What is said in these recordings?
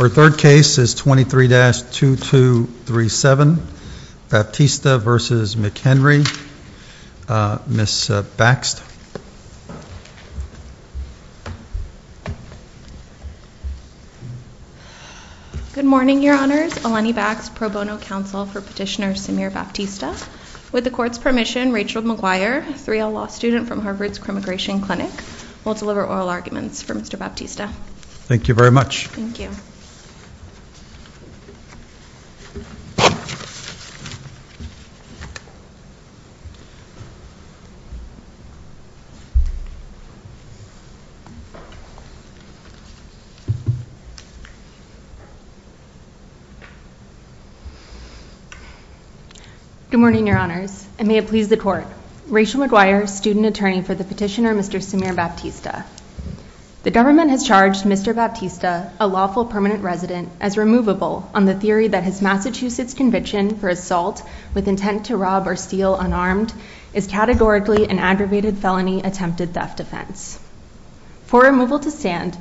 Our third case is 23-2237, Baptista v. McHenry. Ms. Baxt. Good morning, Your Honors. Eleni Baxt, pro bono counsel for petitioner Samir Baptista. With the court's permission, Rachel McGuire, 3L law student from Harvard's Crimmigration Clinic, will deliver oral arguments for Mr. Baptista. Thank you very much. Thank you. Good morning, Your Honors. And may it please the court, Rachel McGuire, student attorney for the petitioner Mr. Samir Baptista. The government has charged Mr. Baptista, a lawful permanent resident, as removable on the theory that his Massachusetts conviction for assault with intent to rob or steal unarmed is categorically an aggravated felony attempted theft offense. For removal to stand,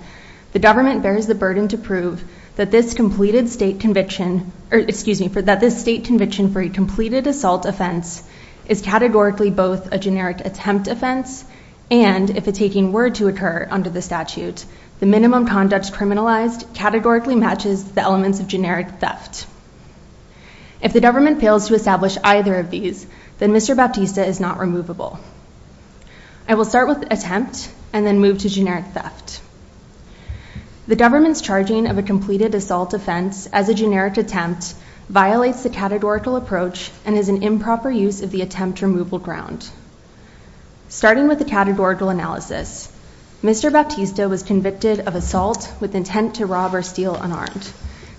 the government bears the burden to prove that this completed state conviction, or excuse me, that this state conviction for a completed assault offense is categorically both a generic attempt offense and, if a taking were to occur under the statute, the minimum conduct criminalized categorically matches the elements of generic theft. If the government fails to establish either of these, then Mr. Baptista is not removable. I will start with attempt and then move to generic theft. The government's charging of a completed assault offense as a generic attempt violates the categorical approach and is an improper use of the attempt removal ground. Starting with the categorical analysis, Mr. Baptista was convicted of assault with intent to rob or steal unarmed.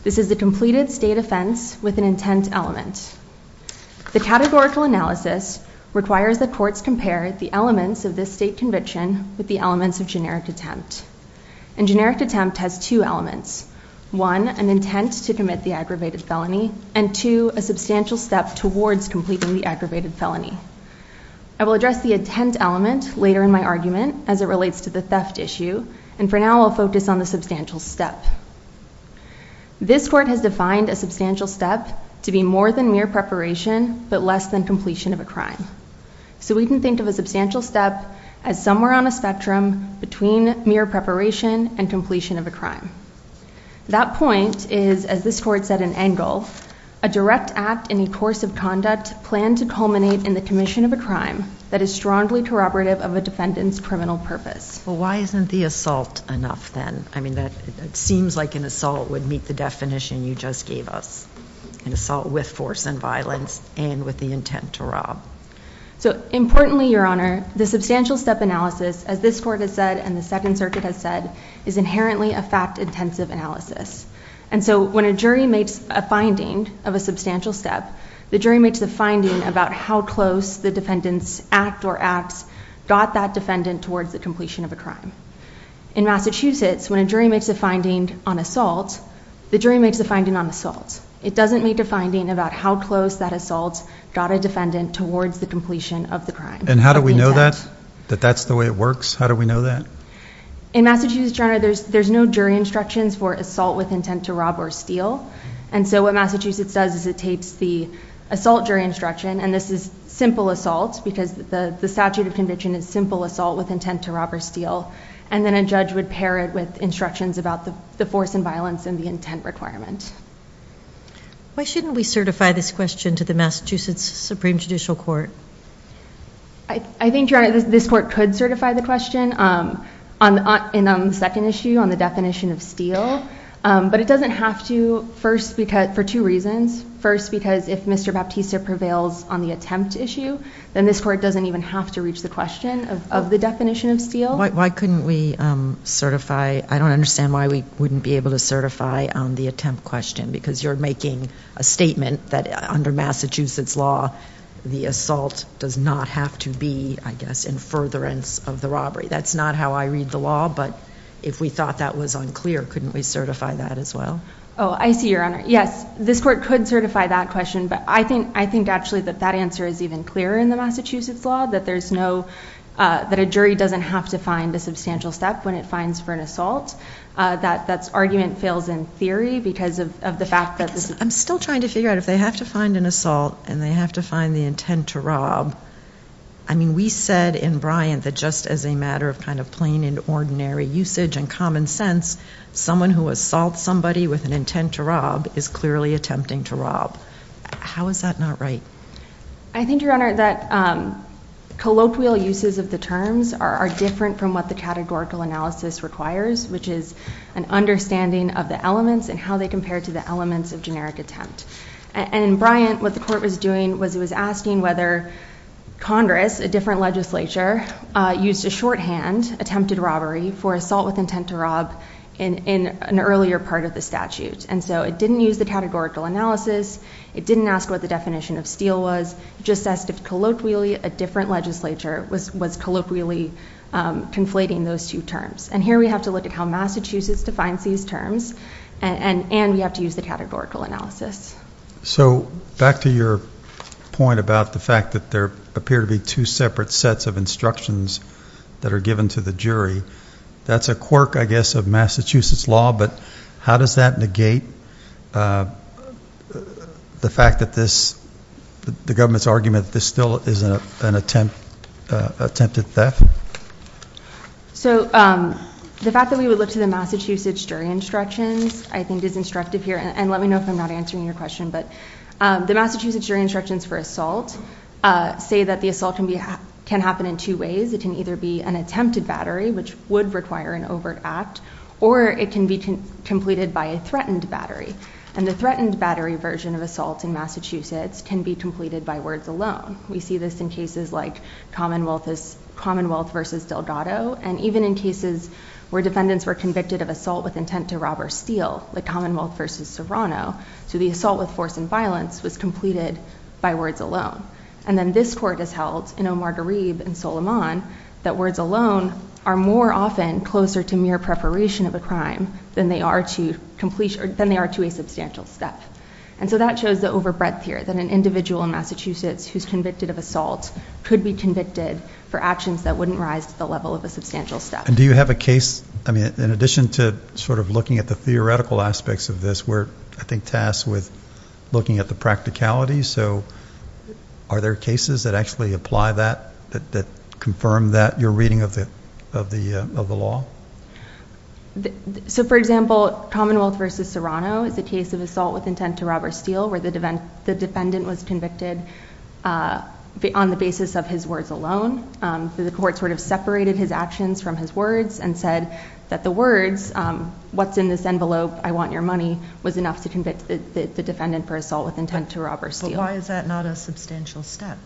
This is a completed state offense with an intent element. The categorical analysis requires the courts compare the elements of this state conviction with the elements of generic attempt. And generic attempt has two elements, one, an intent to commit the aggravated felony, and two, a substantial step towards completing the aggravated felony. I will address the intent element later in my argument as it relates to the theft issue. And for now, I'll focus on the substantial step. This court has defined a substantial step to be more than mere preparation but less than completion of a crime. So we can think of a substantial step as somewhere on a spectrum between mere preparation and completion of a crime. That point is, as this court said in Engel, a direct act in the course of conduct planned to culminate in the commission of a crime that is strongly corroborative of a defendant's criminal purpose. Well, why isn't the assault enough then? I mean, that seems like an assault would meet the definition you just gave us, an assault with force and violence and with the intent to rob. So importantly, Your Honor, the substantial step analysis, as this court has said and the Second Circuit has said, is inherently a fact-intensive analysis. And so when a jury makes a finding of a substantial step, the jury makes a finding about how close the defendant's act or acts got that defendant towards the completion of a crime. In Massachusetts, when a jury makes a finding on assault, the jury makes a finding on assault. It doesn't make a finding about how close that assault got a defendant towards the completion of the crime. And how do we know that, that that's the way it works? How do we know that? In Massachusetts, Your Honor, there's no jury instructions for assault with intent to rob or steal. And so what Massachusetts does is it takes the assault jury instruction, and this is simple assault, because the statute of conviction is simple assault with intent to rob or steal. And then a judge would pair it with instructions about the force and violence and the intent requirement. Why shouldn't we certify this question to the Massachusetts Supreme Judicial Court? I think, Your Honor, this court could certify the question. And on the second issue, on the definition of steal. But it doesn't have to, first, for two reasons. First, because if Mr. Baptista prevails on the attempt issue, then this court doesn't even have to reach the question of the definition of steal. Why couldn't we certify? I don't understand why we wouldn't be able to certify the attempt question. Because you're making a statement that under Massachusetts law, the assault does not have to be, I guess, in furtherance of the robbery. That's not how I read the law. But if we thought that was unclear, couldn't we certify that as well? Oh, I see, Your Honor. Yes, this court could certify that question. But I think, actually, that that answer is even clearer in the Massachusetts law, that a jury doesn't have to find a substantial step when it finds for an assault. That argument fails in theory because of the fact that this is. I'm still trying to figure out if they have to find an assault and they have to find the intent to rob. I mean, we said in Bryant that just as a matter of kind of plain and ordinary usage and common sense, someone who assaults somebody with an intent to rob is clearly attempting to rob. How is that not right? I think, Your Honor, that colloquial uses of the terms are different from what the categorical analysis requires, which is an understanding of the elements and how they compare to the elements of generic attempt. And in Bryant, what the court was doing was it was asking whether Congress, a different legislature, used a shorthand attempted robbery for assault with intent to rob in an earlier part of the statute. And so it didn't use the categorical analysis. It didn't ask what the definition of steal was. Just asked if, colloquially, a different legislature was colloquially conflating those two terms. And here we have to look at how Massachusetts defines these terms. And we have to use the categorical analysis. So back to your point about the fact that there appear to be two separate sets of instructions that are given to the jury. That's a quirk, I guess, of Massachusetts law. But how does that negate the fact that the government's argument that this still is an attempted theft? So the fact that we would look to the Massachusetts jury instructions, I think, is instructive here. And let me know if I'm not answering your question. But the Massachusetts jury instructions for assault say that the assault can happen in two ways. It can either be an attempted battery, which would require an overt act. Or it can be completed by a threatened battery. And the threatened battery version of assault in Massachusetts can be completed by words alone. We see this in cases like Commonwealth versus Delgado. And even in cases where defendants were convicted of assault with intent to rob or steal, like Commonwealth versus Serrano, so the assault with force and violence was completed by words alone. And then this court has held in Omar Gharib and Soleiman that words alone are more often closer to mere preparation of a crime than they are to a substantial step. And so that shows the overbreadth here, that an individual in Massachusetts who's convicted of assault could be convicted for actions that wouldn't rise to the level of a substantial step. And do you have a case, I mean, in addition to sort of looking at the theoretical aspects of this, we're, I think, tasked with looking at the practicality. So are there cases that actually apply that, that confirm that, your reading of the law? So for example, Commonwealth versus Serrano is a case of assault with intent to rob or steal where the defendant was convicted on the basis of his words alone. The court sort of separated his actions from his words and said that the words, what's in this envelope, I want your money, was enough to convict the defendant for assault with intent to rob or steal. But why is that not a substantial step?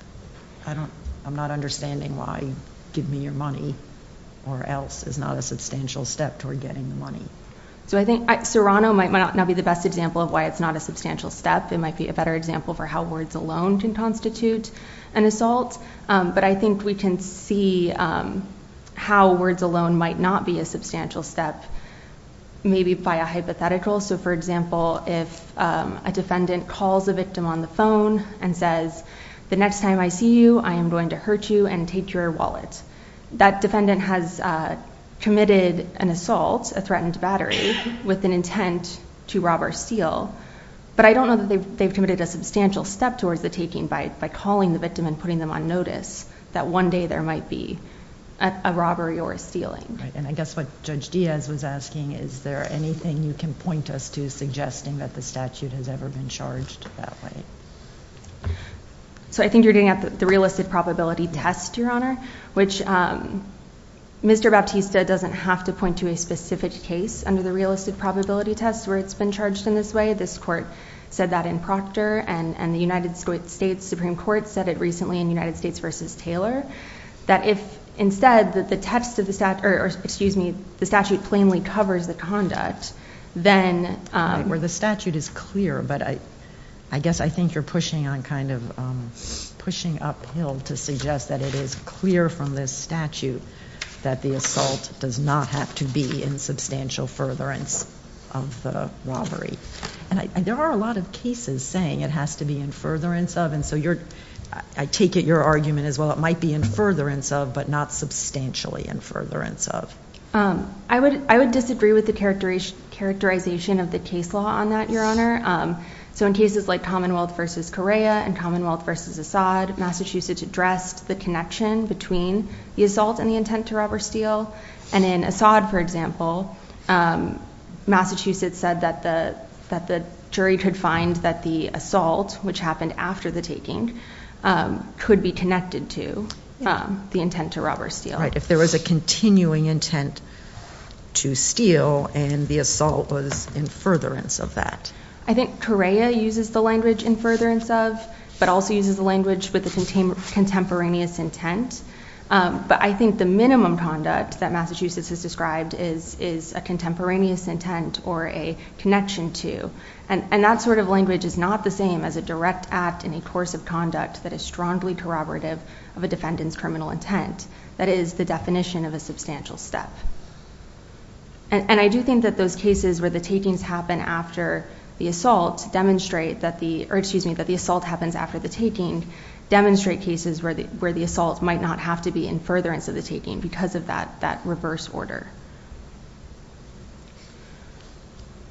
I'm not understanding why give me your money or else is not a substantial step toward getting the money. So I think Serrano might not be the best example of why it's not a substantial step. It might be a better example for how words alone can constitute an assault. But I think we can see how words alone might not be a substantial step, maybe by a hypothetical. So for example, if a defendant calls a victim on the phone and says, the next time I see you, I am going to hurt you and take your wallet. That defendant has committed an assault, a threatened battery, with an intent to rob or steal. But I don't know that they've committed a substantial step towards the taking by calling the victim and putting them on notice that one day there might be a robbery or a stealing. And I guess what Judge Diaz was asking, is there anything you can point us to suggesting that the statute has ever been charged that way? So I think you're getting at the realistic probability test, Your Honor, which Mr. Baptista doesn't have to point to a specific case under the realistic probability test where it's been charged in this way. This court said that in proctor. And the United States Supreme Court said it recently in United States versus Taylor, that if instead the statute plainly covers the conduct, then the statute is clear. But I guess I think you're pushing uphill to suggest that it is clear from this statute that the assault does not have to be in substantial furtherance of the robbery. And there are a lot of cases saying it has to be in furtherance of. And so I take it your argument is, well, it might be in furtherance of, but not substantially in furtherance of. I would disagree with the characterization of the case law on that, Your Honor. So in cases like Commonwealth versus Correa and Commonwealth versus Assad, Massachusetts addressed the connection between the assault and the intent to rob or steal. And in Assad, for example, Massachusetts said that the jury could find that the assault, which happened after the taking, could be connected to the intent to rob or steal. Right, if there was a continuing intent to steal and the assault was in furtherance of that. I think Correa uses the language in furtherance of, but also uses the language with a contemporaneous intent. But I think the minimum conduct that Massachusetts has described is a contemporaneous intent or a connection to. And that sort of language is not the same as a direct act in a course of conduct that is strongly corroborative of a defendant's criminal intent. That is the definition of a substantial step. And I do think that those cases where the takings happen after the assault demonstrate that the assault happens after the taking demonstrate cases where the assault might not have to be in furtherance of the taking because of that reverse order.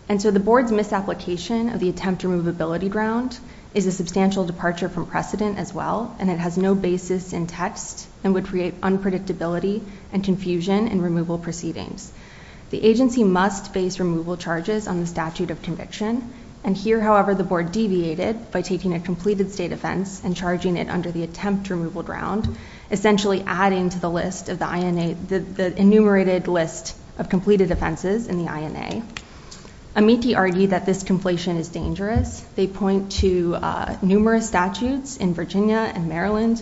And so the board's misapplication of the attempt removability ground is a substantial departure from precedent as well. And it has no basis in text and would create unpredictability and confusion in removal proceedings. The agency must base removal charges on the statute of conviction. And here, however, the board deviated by taking a completed state offense and charging it under the attempt removal ground, essentially adding to the list of the enumerated list of completed offenses in the INA. Amiti argued that this completion is dangerous. They point to numerous statutes in Virginia and Maryland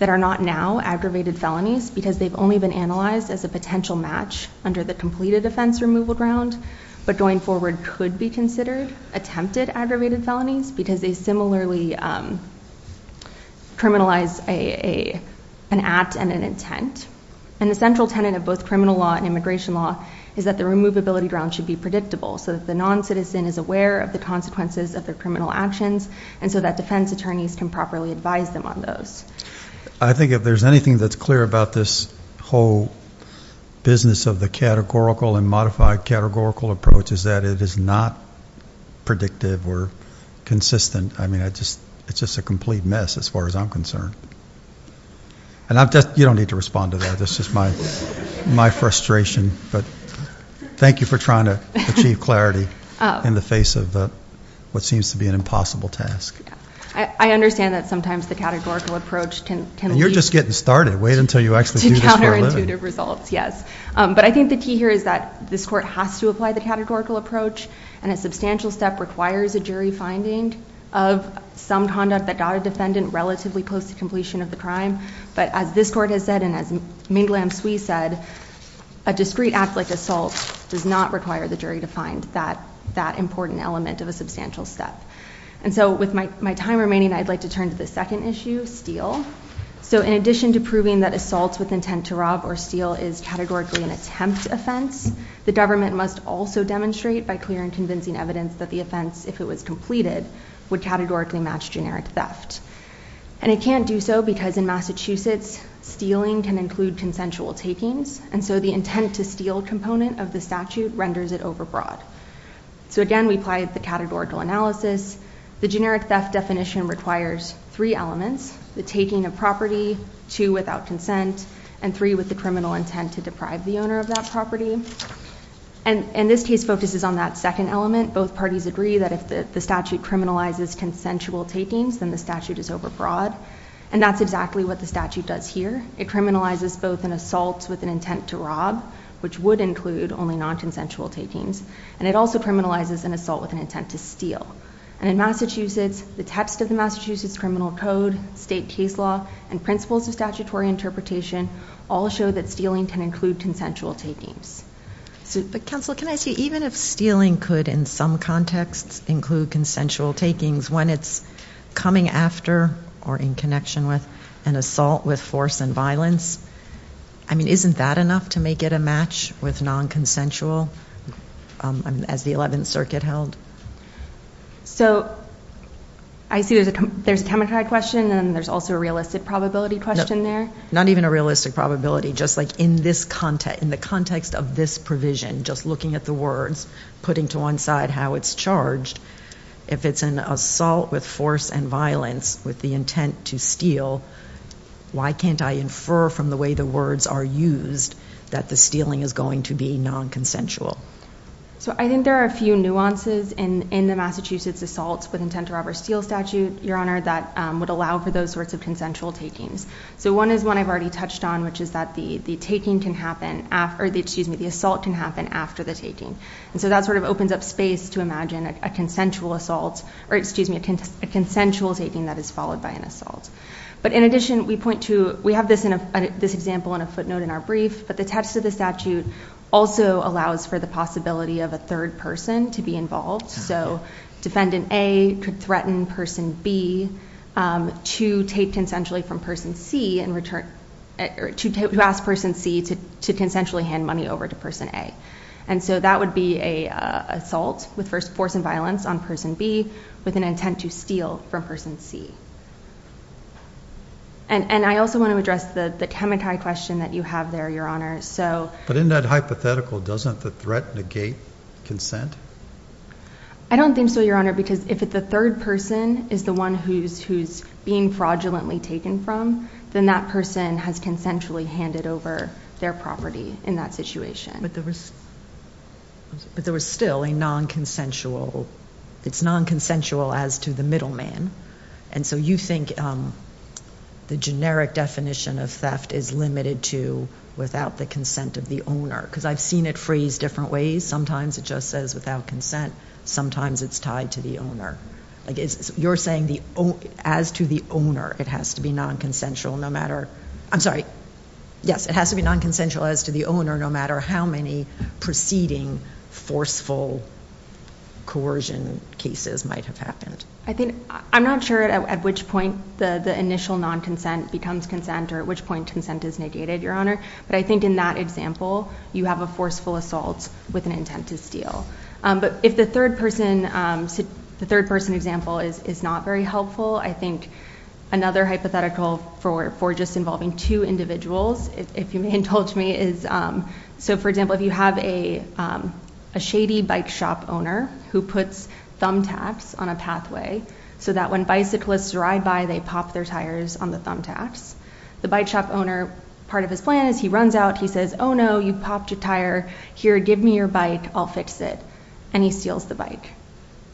that are not now aggravated felonies because they've only been analyzed as a potential match under the completed offense removal ground, but going forward could be considered attempted aggravated felonies because they similarly criminalize an act and an intent. And the central tenet of both criminal law and immigration law is that the removability ground should be predictable so that the non-citizen is aware of the consequences of their criminal actions and so that defense attorneys can properly advise them on those. I think if there's anything that's clear about this whole business of the categorical and modified categorical approach is that it is not predictive or consistent. I mean, it's just a complete mess as far as I'm concerned. And I've just, you don't need to respond to that. This is my frustration. But thank you for trying to achieve clarity in the face of what seems to be an impossible task. I understand that sometimes the categorical approach can lead. And you're just getting started. Wait until you actually do this for a living. To counterintuitive results, yes. But I think the key here is that this court has to apply the categorical approach. And a substantial step requires a jury finding of some conduct that got a defendant relatively close to completion of the crime. But as this court has said and as Ming-Lam Tsui said, a discrete act like assault does not require the jury to find that important element of a substantial step. And so with my time remaining, I'd like to turn to the second issue, steal. So in addition to proving that assault with intent to rob or steal is categorically an attempt offense, the government must also demonstrate by clear and convincing evidence that the offense, if it was completed, would categorically match generic theft. And it can't do so because in Massachusetts, stealing can include consensual takings. And so the intent to steal component of the statute renders it overbroad. So again, we apply the categorical analysis. The generic theft definition requires three elements, the taking of property, two without consent, and three with the criminal intent to deprive the owner of that property. And this case focuses on that second element. Both parties agree that if the statute criminalizes consensual takings, then the statute is overbroad. And that's exactly what the statute does here. It criminalizes both an assault with an intent to rob, which would include only non-consensual takings, and it also criminalizes an assault with an intent to steal. And in Massachusetts, the text of the Massachusetts Criminal Code, state case law, and principles of statutory interpretation all show that stealing can include consensual takings. But counsel, can I see, even if stealing could, in some contexts, include consensual takings, when it's coming after, or in connection with, an assault with force and violence, I mean, isn't that enough to make it a match with non-consensual, as the 11th Circuit held? So I see there's a chemistry question, and there's also a realistic probability question there. Not even a realistic probability. Just like in the context of this provision, just looking at the words, putting to one side how it's charged, if it's an assault with force and violence, with the intent to steal, why can't I infer from the way the words are used that the stealing is going to be non-consensual? So I think there are a few nuances in the Massachusetts assaults with intent to rob or steal statute, Your Honor, that would allow for those sorts of consensual takings. So one is one I've already touched on, which is that the assault can happen after the taking. And so that sort of opens up space to imagine a consensual assault, or excuse me, a consensual taking that is followed by an assault. But in addition, we point to, we have this example in a footnote in our brief, but the text of the statute also allows for the possibility of a third person to be involved. So defendant A could threaten person B to take consensually from person C and return, to ask person C to consensually hand money over to person A. And so that would be a assault with force and violence on person B with an intent to steal from person C. And I also want to address the temati question that you have there, Your Honor. But in that hypothetical, doesn't the threat negate consent? I don't think so, Your Honor, because if the third person is the one who's being fraudulently taken from, then that person has consensually handed over their property in that situation. But there was still a non-consensual, it's non-consensual as to the middleman. And so you think the generic definition of theft is limited to without the consent of the owner. Because I've seen it phrased different ways. Sometimes it just says without consent, sometimes it's tied to the owner. Like you're saying as to the owner, it has to be non-consensual no matter, I'm sorry. Yes, it has to be non-consensual as to the owner no matter how many preceding forceful coercion cases might have happened. I think, I'm not sure at which point the initial non-consent becomes consent or at which point consent is negated, Your Honor. But I think in that example, you have a forceful assault with an intent to steal. But if the third person example is not very helpful, I think another hypothetical for just involving two individuals, if you may indulge me is, so for example, if you have a shady bike shop owner who puts thumbtacks on a pathway so that when bicyclists ride by, they pop their tires on the thumbtacks. The bike shop owner, part of his plan is he runs out, he says, oh no, you popped a tire. Here, give me your bike, I'll fix it. And he steals the bike.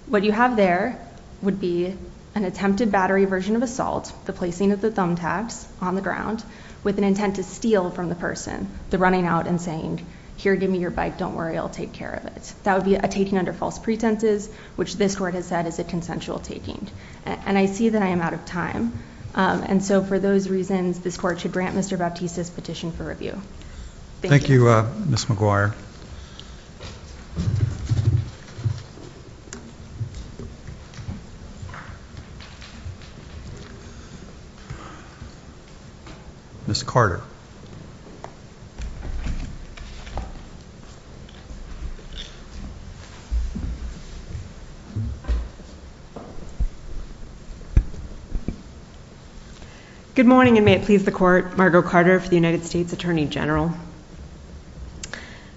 What you have there would be an attempted battery version of assault, the placing of the thumbtacks on the ground with an intent to steal from the person, the running out and saying, here, give me your bike, don't worry, I'll take care of it. That would be a taking under false pretenses, which this court has said is a consensual taking. And I see that I am out of time. And so for those reasons, this court should grant Mr. Baptista's petition for review. Thank you. Thank you, Ms. McGuire. Ms. Carter. Good morning, and may it please the court. Margo Carter for the United States Attorney General.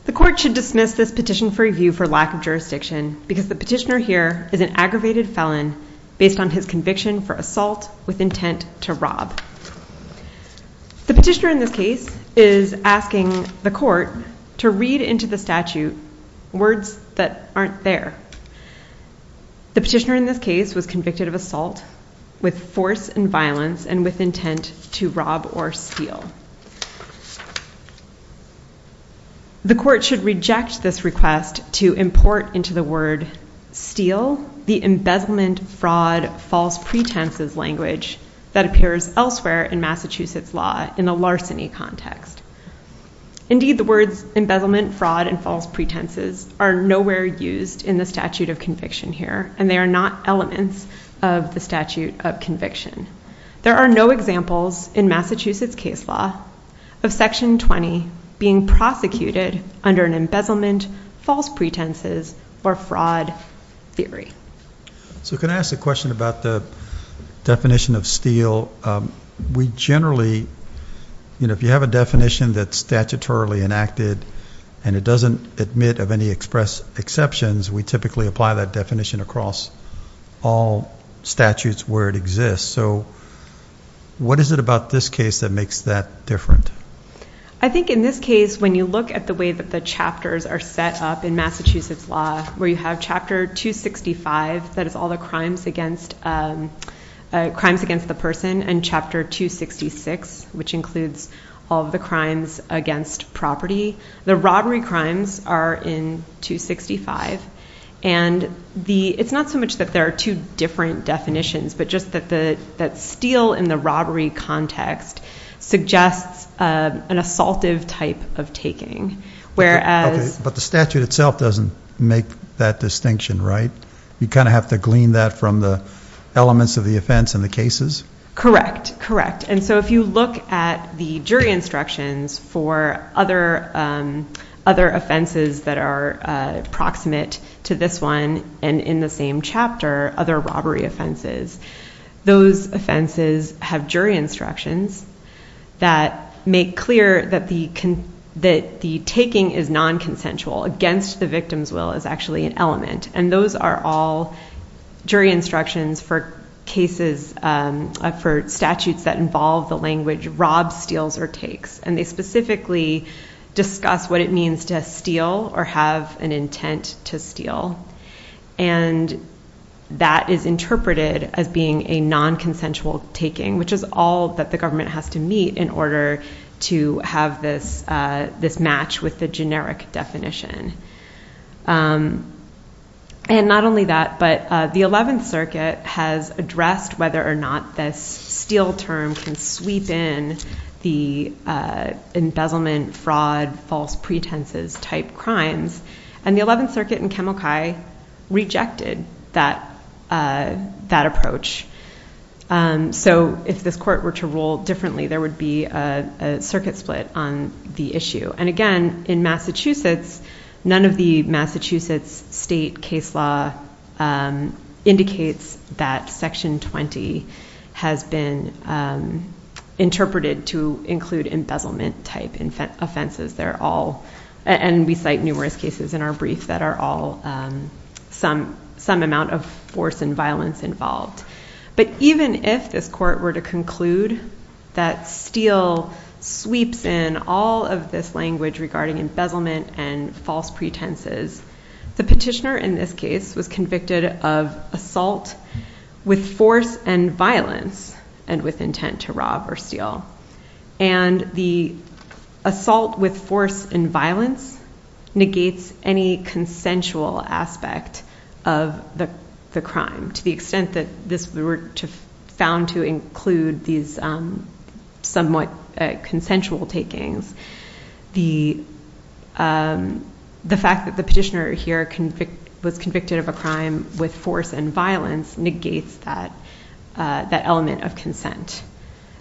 The court should dismiss this petition for review for lack of jurisdiction, because the petitioner here is an aggravated felon based on his conviction for assault with intent to rob. The petitioner in this case is asking the court to read into the statute words that aren't there. The petitioner in this case was convicted of assault with force and violence and with intent to rob or steal. The court should reject this request to import into the word steal the embezzlement, fraud, false pretenses language that appears elsewhere in Massachusetts law in a larceny context. Indeed, the words embezzlement, fraud, and false pretenses are nowhere used in the statute of conviction here. And they are not elements of the statute of conviction. There are no examples in Massachusetts case law of Section 20 being prosecuted under an embezzlement, false pretenses, or fraud theory. So can I ask a question about the definition of steal? We generally, you know, if you have a definition that's statutorily enacted and it doesn't admit of any express exceptions, we typically apply that definition across all statutes where it exists. So what is it about this case that makes that different? I think in this case, when you look at the way that the chapters are set up in Massachusetts law, where you have Chapter 265, that is all the crimes against the person, and Chapter 266, which includes all of the crimes against property. The robbery crimes are in 265. And it's not so much that there are two different definitions, but just that steal in the robbery context suggests an assaultive type of taking. Whereas But the statute itself doesn't make that distinction, right? You kind of have to glean that from the elements of the offense in the cases? Correct, correct. And so if you look at the jury instructions for other offenses that are proximate to this one, and in the same chapter, other robbery offenses, those offenses have jury instructions that make clear that the taking is non-consensual. Against the victim's will is actually an element. And those are all jury instructions for cases for statutes that involve the language rob, steals, or takes. And they specifically discuss what it means to steal or have an intent to steal. And that is interpreted as being a non-consensual taking, which is all that the government has to meet in order to have this match with the generic definition. And not only that, but the 11th Circuit has addressed whether or not this steal term can sweep in the embezzlement, fraud, false pretenses type crimes. And the 11th Circuit in Kemalkai rejected that approach. And so if this court were to rule differently, there would be a circuit split on the issue. And again, in Massachusetts, none of the Massachusetts state case law indicates that Section 20 has been interpreted to include embezzlement type offenses. And we cite numerous cases in our brief that are all some amount of force and violence involved. But even if this court were to conclude that steal sweeps in all of this language regarding embezzlement and false pretenses, the petitioner in this case was convicted of assault with force and violence and with intent to rob or steal. And the assault with force and violence negates any consensual aspect of the crime. To the extent that this were found to include these somewhat consensual takings, the fact that the petitioner here was convicted of a crime with force and violence negates that element of consent.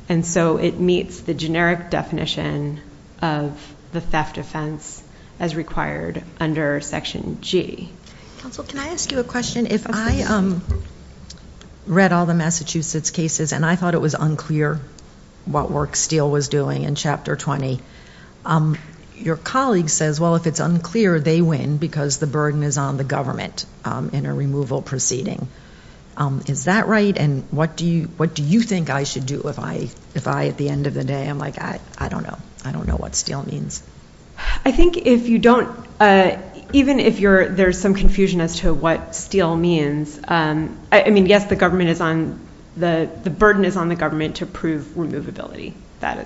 And so it meets the generic definition of the theft offense as required under Section G. Counsel, can I ask you a question? If I read all the Massachusetts cases and I thought it was unclear what work Steele was doing in Chapter 20, your colleague says, well, if it's unclear, they win because the burden is on the government in a removal proceeding. Is that right? And what do you think I should do if I, at the end of the day, I'm like, I don't know. What Steele means? I think if you don't, even if there's some confusion as to what Steele means, I mean, yes, the burden is on the government to prove removability. That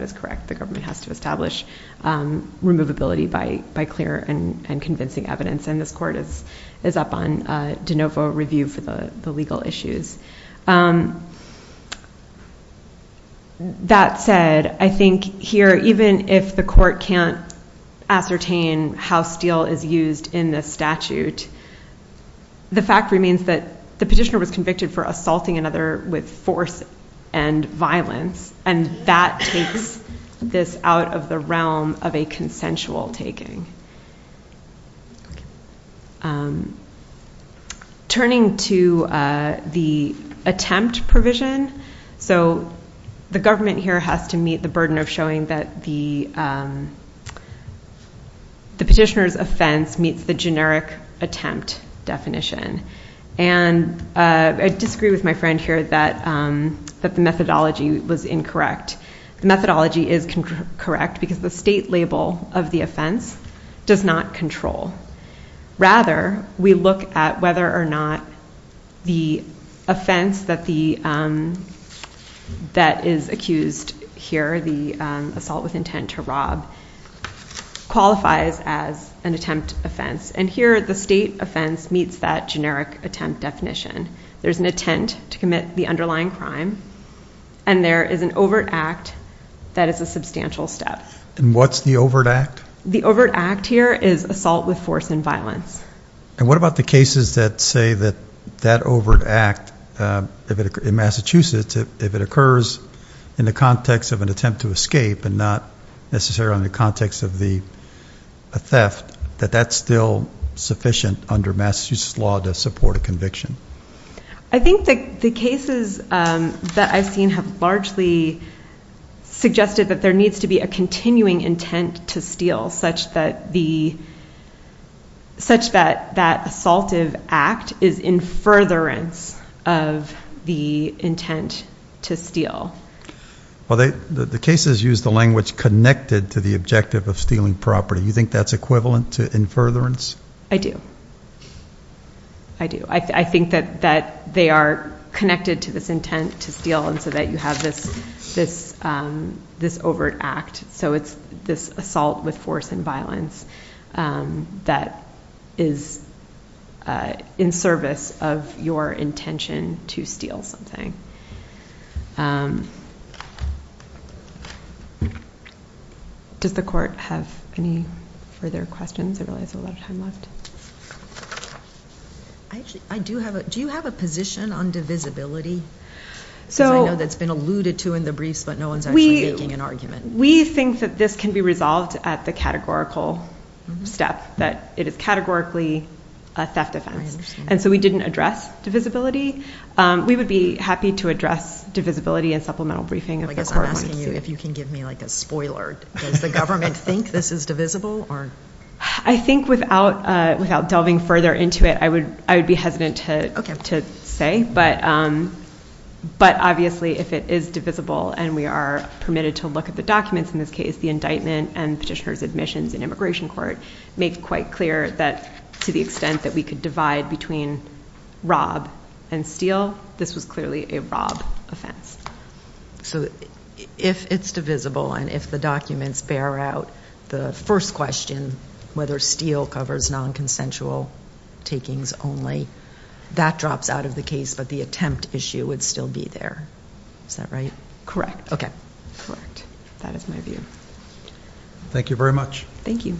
is correct. The government has to establish removability by clear and convincing evidence. And this court is up on de novo review for the legal issues. That said, I think here, even if the court can't ascertain how Steele is used in this statute, the fact remains that the petitioner was convicted for assaulting another with force and violence. And that takes this out of the realm of a consensual taking. Turning to the attempt provision, so the government here has to meet the burden of showing that the petitioner's offense meets the generic attempt definition. And I disagree with my friend here that the methodology was incorrect. The methodology is correct because the state label of the offense, the state label does not control. Rather, we look at whether or not the offense that is accused here, the assault with intent to rob, qualifies as an attempt offense. And here, the state offense meets that generic attempt definition. There's an attempt to commit the underlying crime. And there is an overt act that is a substantial step. And what's the overt act? The overt act here is assault with force and violence. And what about the cases that say that that overt act in Massachusetts, if it occurs in the context of an attempt to escape and not necessarily in the context of a theft, that that's still sufficient under Massachusetts law to support a conviction? I think that the cases that I've seen have largely suggested that there to be a continuing intent to steal, such that that assaultive act is in furtherance of the intent to steal. Well, the cases use the language connected to the objective of stealing property. You think that's equivalent to in furtherance? I do. I do. I think that they are connected to this intent to steal and so that you have this overt act. So it's this assault with force and violence that is in service of your intention to steal something. Does the court have any further questions? I realize there's a lot of time left. Actually, do you have a position on divisibility? Since I know that's been alluded to in the briefs, but no one's actually making an argument. We think that this can be resolved at the categorical step, that it is categorically a theft offense. And so we didn't address divisibility. We would be happy to address divisibility in supplemental briefing. I guess I'm asking you if you can give me a spoiler. Does the government think this is divisible? I think without delving further into it, I would be hesitant to say. But obviously, if it is divisible and we are permitted to look at the documents in this case, the indictment and petitioner's admissions in immigration court make quite clear that to the extent that we could divide between rob and steal, this was clearly a rob offense. So if it's divisible and if the documents bear out the first question, whether steal covers non-consensual takings only, that drops out of the case. But the attempt issue would still be there. Is that right? Correct. Correct. That is my view. Thank you very much. Thank you.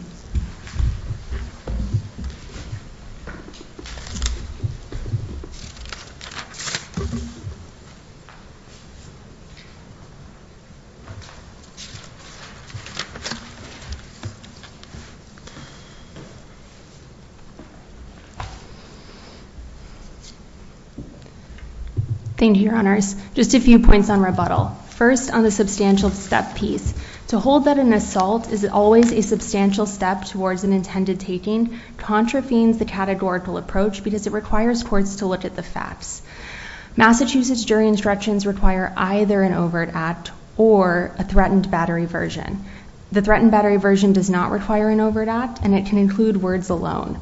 Thank you, Your Honors. Just a few points on rebuttal. First, on the substantial step piece. To hold that an assault is always a substantial step towards an intended taking contravenes the categorical approach because it requires courts to look at the facts. Massachusetts jury instructions require either an overt act or a threatened battery version. The threatened battery version does not require an overt act, and it can include words alone.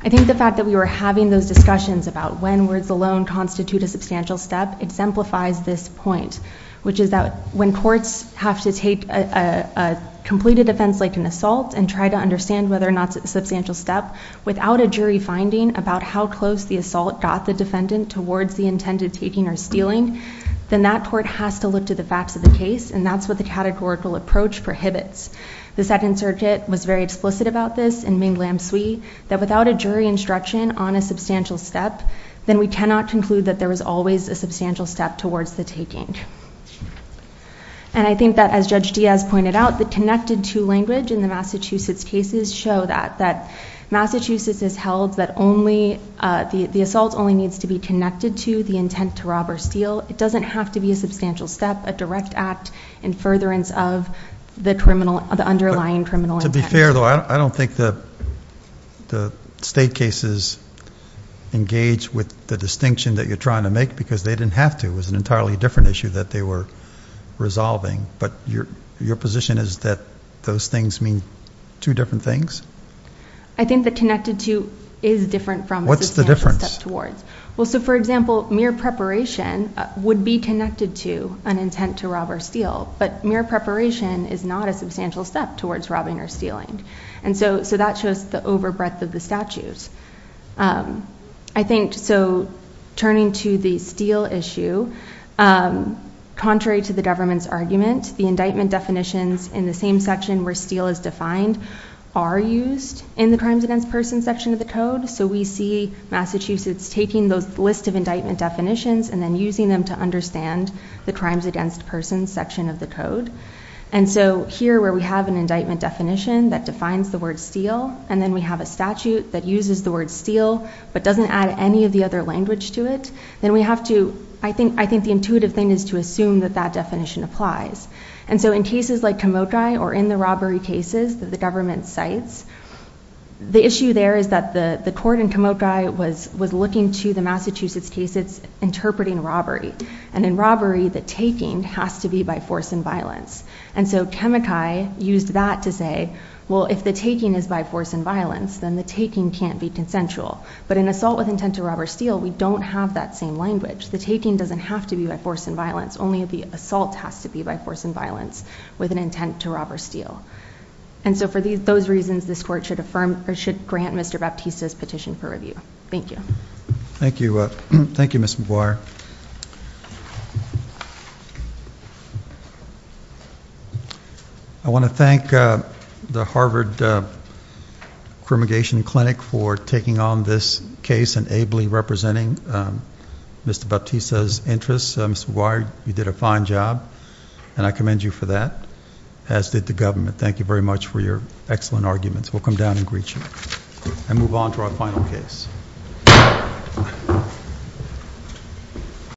I think the fact that we were having those discussions about when words alone constitute a substantial step exemplifies this point, which is that when courts have to take a completed offense like an assault and try to understand whether or not it's a substantial step without a jury finding about how close the assault got the defendant towards the intended taking or stealing, then that court has to look to the facts of the case. And that's what the categorical approach prohibits. The Second Circuit was very explicit about this in Ming Lam Sui, that without a jury instruction on a substantial step, then we cannot conclude that there was always a substantial step towards the taking. And I think that, as Judge Diaz pointed out, the connected to language in the Massachusetts cases show that Massachusetts has held that the assault only needs to be connected to the intent to rob or steal. It doesn't have to be a substantial step, a direct act in furtherance of the underlying criminal intent. To be fair, though, I don't think the state cases engage with the distinction that you're trying to make, because they didn't have to. It was an entirely different issue that they were resolving. But your position is that those things mean two different things? I think that connected to is different from a substantial step towards. Well, so for example, mere preparation would be connected to an intent to rob or steal. But mere preparation is not a substantial step towards robbing or stealing. And so that shows the over breadth of the statutes. So turning to the steal issue, contrary to the government's argument, the indictment definitions in the same section where steal is defined are used in the crimes against persons section of the code. So we see Massachusetts taking those list of indictment definitions and then using them to understand the crimes against persons section of the code. And so here, where we have an indictment definition that defines the word steal, and then we have a statute that uses the word steal, but doesn't add any of the other language to it, then we have to, I think the intuitive thing is to assume that that definition applies. And so in cases like Kamokai, or in the robbery cases that the government cites, the issue there is that the court in Kamokai was looking to the Massachusetts case. It's interpreting robbery. And in robbery, the taking has to be by force and violence. And so Kamokai used that to say, well, if the taking is by force and violence, then the taking can't be consensual. But in assault with intent to rob or steal, we don't have that same language. The taking doesn't have to be by force and violence. Only the assault has to be by force and violence with an intent to rob or steal. And so for those reasons, this court should grant Mr. Baptista's petition for review. Thank you. Thank you. Thank you, Mr. McGuire. I want to thank the Harvard Cremation Clinic for taking on this case and ably representing Mr. Baptista's interests. Mr. McGuire, you did a fine job. And I commend you for that, as did the government. Thank you very much for your excellent arguments. We'll come down and greet you and move on to our final case.